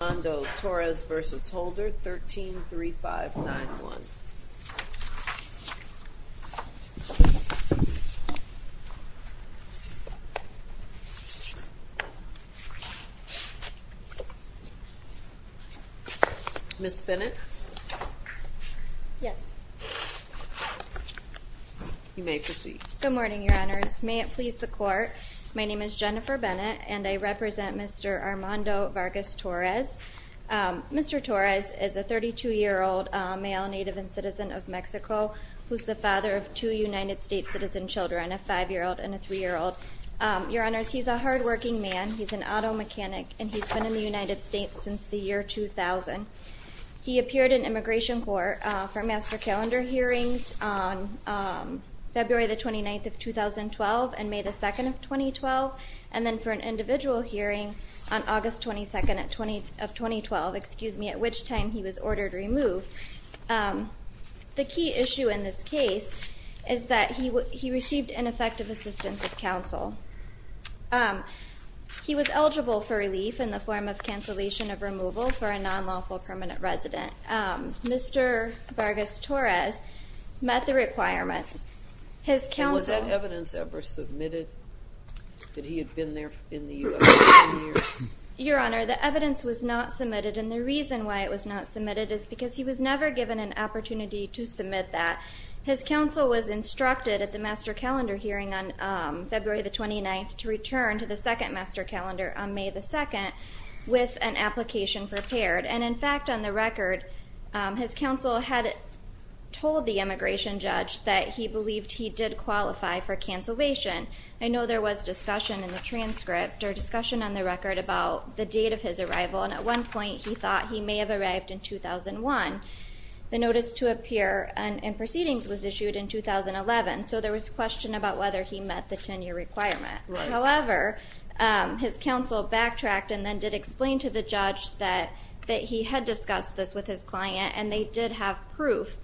Mr. Armando Torres v. Holder, 13-3591. Ms. Bennett? Yes. You may proceed. Good morning, Your Honors. May it please the Court, My name is Jennifer Bennett, and I represent Mr. Armando Vargas Torres. Mr. Torres is a 32-year-old male native and citizen of Mexico who is the father of two United States citizen children, a 5-year-old and a 3-year-old. Your Honors, he's a hardworking man. He's an auto mechanic, and he's been in the United States since the year 2000. He appeared in immigration court for master calendar hearings on February the 29th of 2012 and May the 2nd of 2012, and then for an individual hearing on August 22nd of 2012, at which time he was ordered removed. The key issue in this case is that he received ineffective assistance of counsel. He was eligible for relief in the form of cancellation of removal for a non-lawful permanent resident. Mr. Vargas Torres met the requirements. And was that evidence ever submitted that he had been there in the U.S. for 10 years? Your Honor, the evidence was not submitted, and the reason why it was not submitted is because he was never given an opportunity to submit that. His counsel was instructed at the master calendar hearing on February the 29th to return to the second master calendar on May the 2nd with an application prepared. And, in fact, on the record, his counsel had told the immigration judge that he believed he did qualify for cancellation. I know there was discussion in the transcript or discussion on the record about the date of his arrival, and at one point he thought he may have arrived in 2001. The notice to appear in proceedings was issued in 2011, so there was question about whether he met the 10-year requirement. However, his counsel backtracked and then did explain to the judge that he had discussed this with his client, and they did have proof.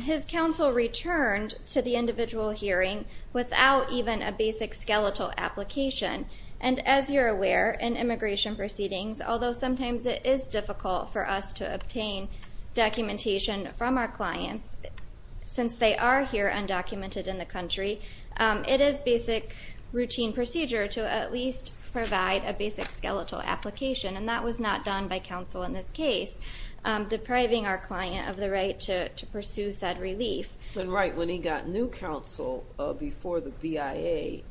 His counsel returned to the individual hearing without even a basic skeletal application. And as you're aware, in immigration proceedings, although sometimes it is difficult for us to obtain documentation from our clients, since they are here undocumented in the country, it is basic routine procedure to at least provide a basic skeletal application, and that was not done by counsel in this case, depriving our client of the right to pursue said relief. And, right, when he got new counsel before the BIA,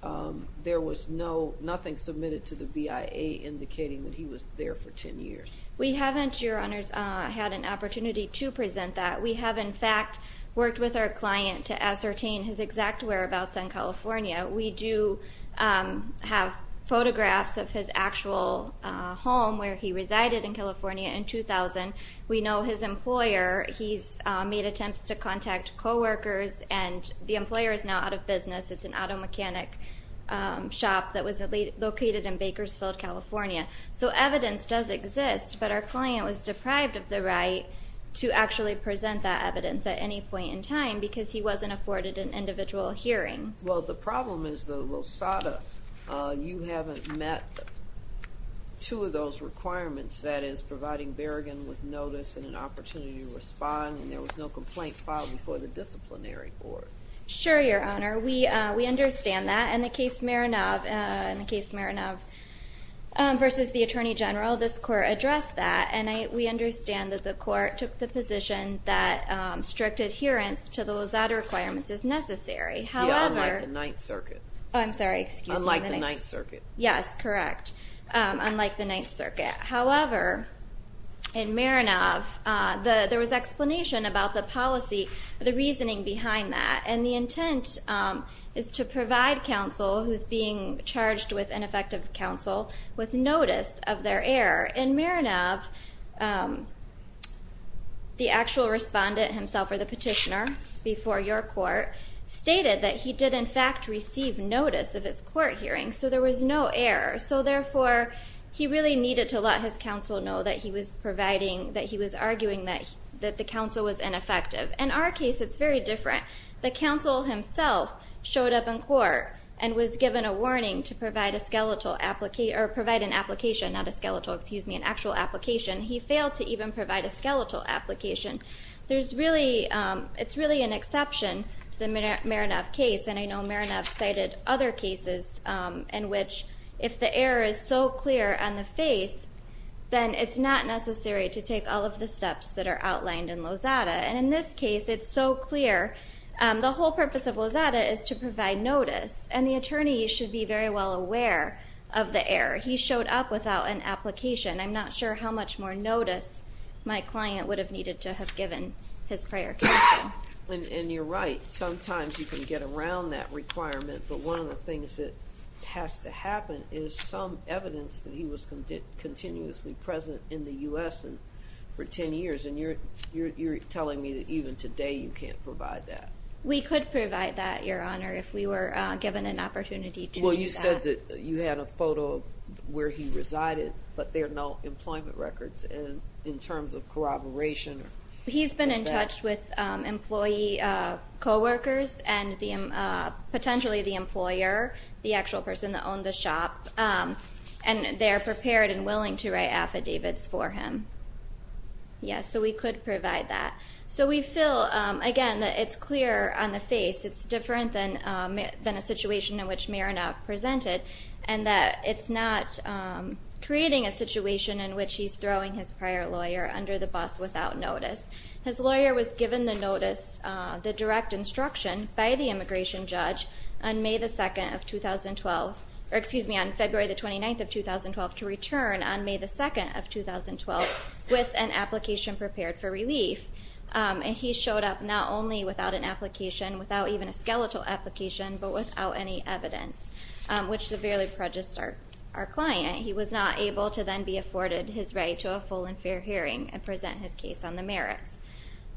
there was nothing submitted to the BIA indicating that he was there for 10 years. We haven't, Your Honors, had an opportunity to present that. We have, in fact, worked with our client to ascertain his exact whereabouts in California. We do have photographs of his actual home where he resided in California in 2000. We know his employer, he's made attempts to contact coworkers, and the employer is now out of business. It's an auto mechanic shop that was located in Bakersfield, California. So evidence does exist, but our client was deprived of the right to actually present that evidence at any point in time because he wasn't afforded an individual hearing. Well, the problem is, though, Losada, you haven't met two of those requirements, that is, providing Berrigan with notice and an opportunity to respond, and there was no complaint filed before the disciplinary board. Sure, Your Honor. We understand that. In the case Marinov versus the Attorney General, this court addressed that, and we understand that the court took the position that strict adherence to the Losada requirements is necessary. Yeah, unlike the Ninth Circuit. I'm sorry, excuse me. Unlike the Ninth Circuit. Yes, correct, unlike the Ninth Circuit. However, in Marinov, there was explanation about the policy, the reasoning behind that, and the intent is to provide counsel who's being charged with ineffective counsel with notice of their error. In Marinov, the actual respondent himself, or the petitioner before your court, stated that he did, in fact, receive notice of his court hearing, so there was no error. So, therefore, he really needed to let his counsel know that he was providing, that he was arguing that the counsel was ineffective. In our case, it's very different. The counsel himself showed up in court and was given a warning to provide an application, not a skeletal, excuse me, an actual application. He failed to even provide a skeletal application. It's really an exception to the Marinov case, and I know Marinov cited other cases in which if the error is so clear on the face, then it's not necessary to take all of the steps that are outlined in Losada. And in this case, it's so clear. The whole purpose of Losada is to provide notice, and the attorney should be very well aware of the error. He showed up without an application. I'm not sure how much more notice my client would have needed to have given his prior counsel. And you're right. Sometimes you can get around that requirement, but one of the things that has to happen is some evidence that he was continuously present in the U.S. for 10 years, and you're telling me that even today you can't provide that. We could provide that, Your Honor, if we were given an opportunity to do that. Well, you said that you had a photo of where he resided, but there are no employment records in terms of corroboration. He's been in touch with employee coworkers and potentially the employer, the actual person that owned the shop, and they are prepared and willing to write affidavits for him. Yes, so we could provide that. So we feel, again, that it's clear on the face. It's different than a situation in which Mironov presented, and that it's not creating a situation in which he's throwing his prior lawyer under the bus without notice. His lawyer was given the notice, the direct instruction, by the immigration judge on May 2, 2012, or excuse me, on February 29, 2012, to return on May 2, 2012 with an application prepared for relief, and he showed up not only without an application, without even a skeletal application, but without any evidence, which severely prejudiced our client. He was not able to then be afforded his right to a full and fair hearing and present his case on the merits.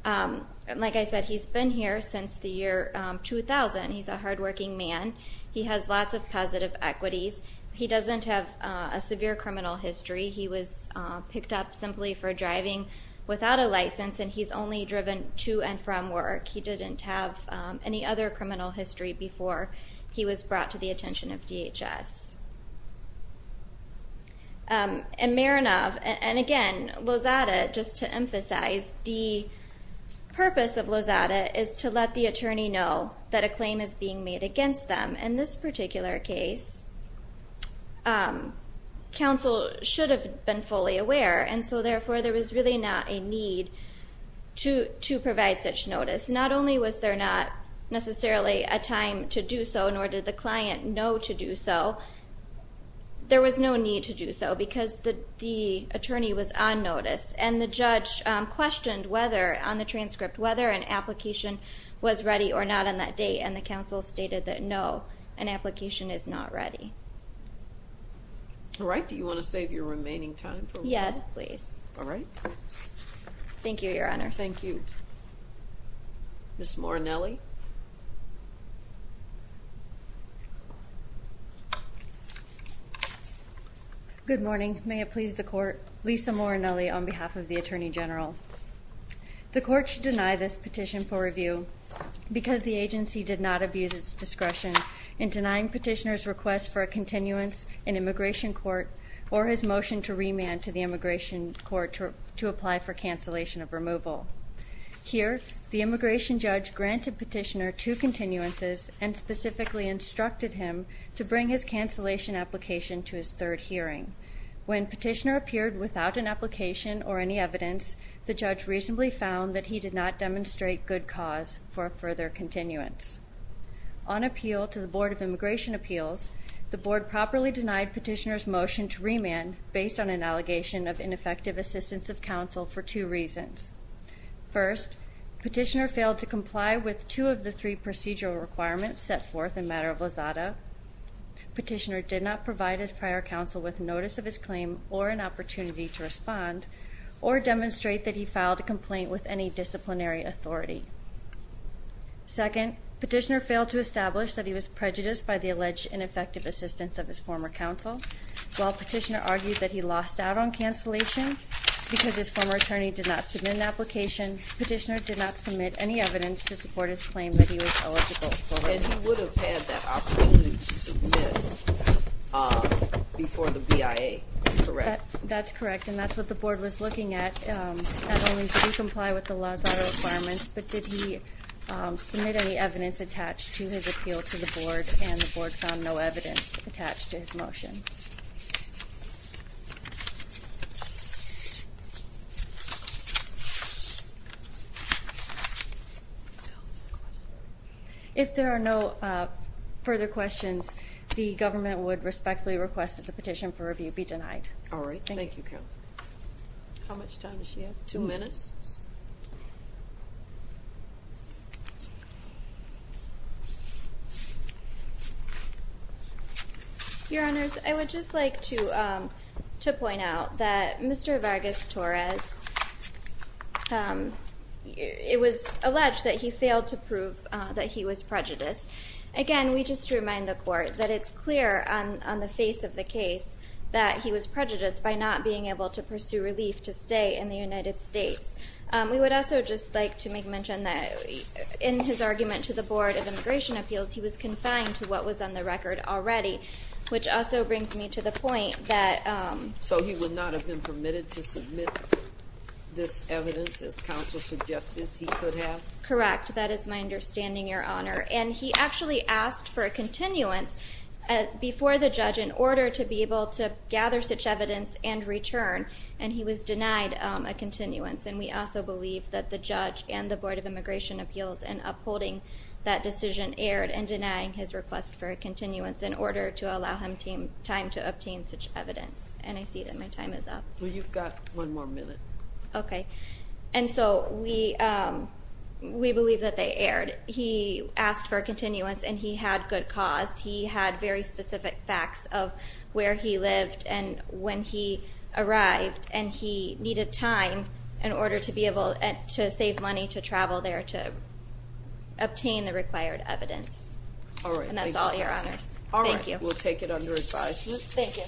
Like I said, he's been here since the year 2000. He's a hardworking man. He has lots of positive equities. He doesn't have a severe criminal history. He was picked up simply for driving without a license, and he's only driven to and from work. He didn't have any other criminal history before he was brought to the attention of DHS. And Mironov, and again, Lozada, just to emphasize, the purpose of Lozada is to let the attorney know that a claim is being made against them. In this particular case, counsel should have been fully aware, and so therefore there was really not a need to provide such notice. Not only was there not necessarily a time to do so, nor did the client know to do so, there was no need to do so because the attorney was on notice, and the judge questioned on the transcript whether an application was ready or not on that date, and the counsel stated that no, an application is not ready. All right. Do you want to save your remaining time for one more? Yes, please. All right. Thank you, Your Honors. Thank you. Ms. Morinelli? Good morning. May it please the Court. Lisa Morinelli on behalf of the Attorney General. The Court should deny this petition for review because the agency did not abuse its discretion in denying Petitioner's request for a continuance in immigration court or his motion to remand to the immigration court to apply for cancellation of removal. Here, the immigration judge granted Petitioner two continuances and specifically instructed him to bring his cancellation application to his third hearing. When Petitioner appeared without an application or any evidence, the judge reasonably found that he did not demonstrate good cause for a further continuance. On appeal to the Board of Immigration Appeals, the Board properly denied Petitioner's motion to remand based on an allegation of ineffective assistance of counsel for two reasons. First, Petitioner failed to comply with two of the three procedural requirements set forth in Matter of Lizada. Petitioner did not provide his prior counsel with notice of his claim or an opportunity to respond or demonstrate that he filed a complaint with any disciplinary authority. Second, Petitioner failed to establish that he was prejudiced by the alleged ineffective assistance of his former counsel. While Petitioner argued that he lost out on cancellation because his former attorney did not submit an application, Petitioner did not submit any evidence to support his claim that he was eligible for remand. And he would have had that opportunity to submit before the BIA, correct? That's correct, and that's what the Board was looking at. Not only did he comply with the Lizada requirements, but did he submit any evidence attached to his appeal to the Board, and the Board found no evidence attached to his motion. Thank you. If there are no further questions, the government would respectfully request that the petition for review be denied. All right. Thank you, Counsel. How much time does she have? Two minutes. Your Honors, I would just like to point out that Mr. Vargas-Torres, it was alleged that he failed to prove that he was prejudiced. Again, we just remind the Court that it's clear on the face of the case that he was prejudiced by not being able to pursue relief to stay in the United States. We would also just like to mention that in his argument to the Board of Immigration Appeals, he was confined to what was on the record already, which also brings me to the point that... So he would not have been permitted to submit this evidence, as Counsel suggested he could have? Correct. That is my understanding, Your Honor. And he actually asked for a continuance before the judge in order to be able to gather such evidence and return, and he was denied a continuance. And we also believe that the judge and the Board of Immigration Appeals in upholding that decision erred in denying his request for a continuance in order to allow him time to obtain such evidence. And I see that my time is up. Well, you've got one more minute. Okay. And so we believe that they erred. He asked for a continuance, and he had good cause. He had very specific facts of where he lived, and when he arrived, and he needed time in order to be able to save money to travel there to obtain the required evidence. And that's all, Your Honors. Thank you. All right. We'll take it under advisement. Thank you.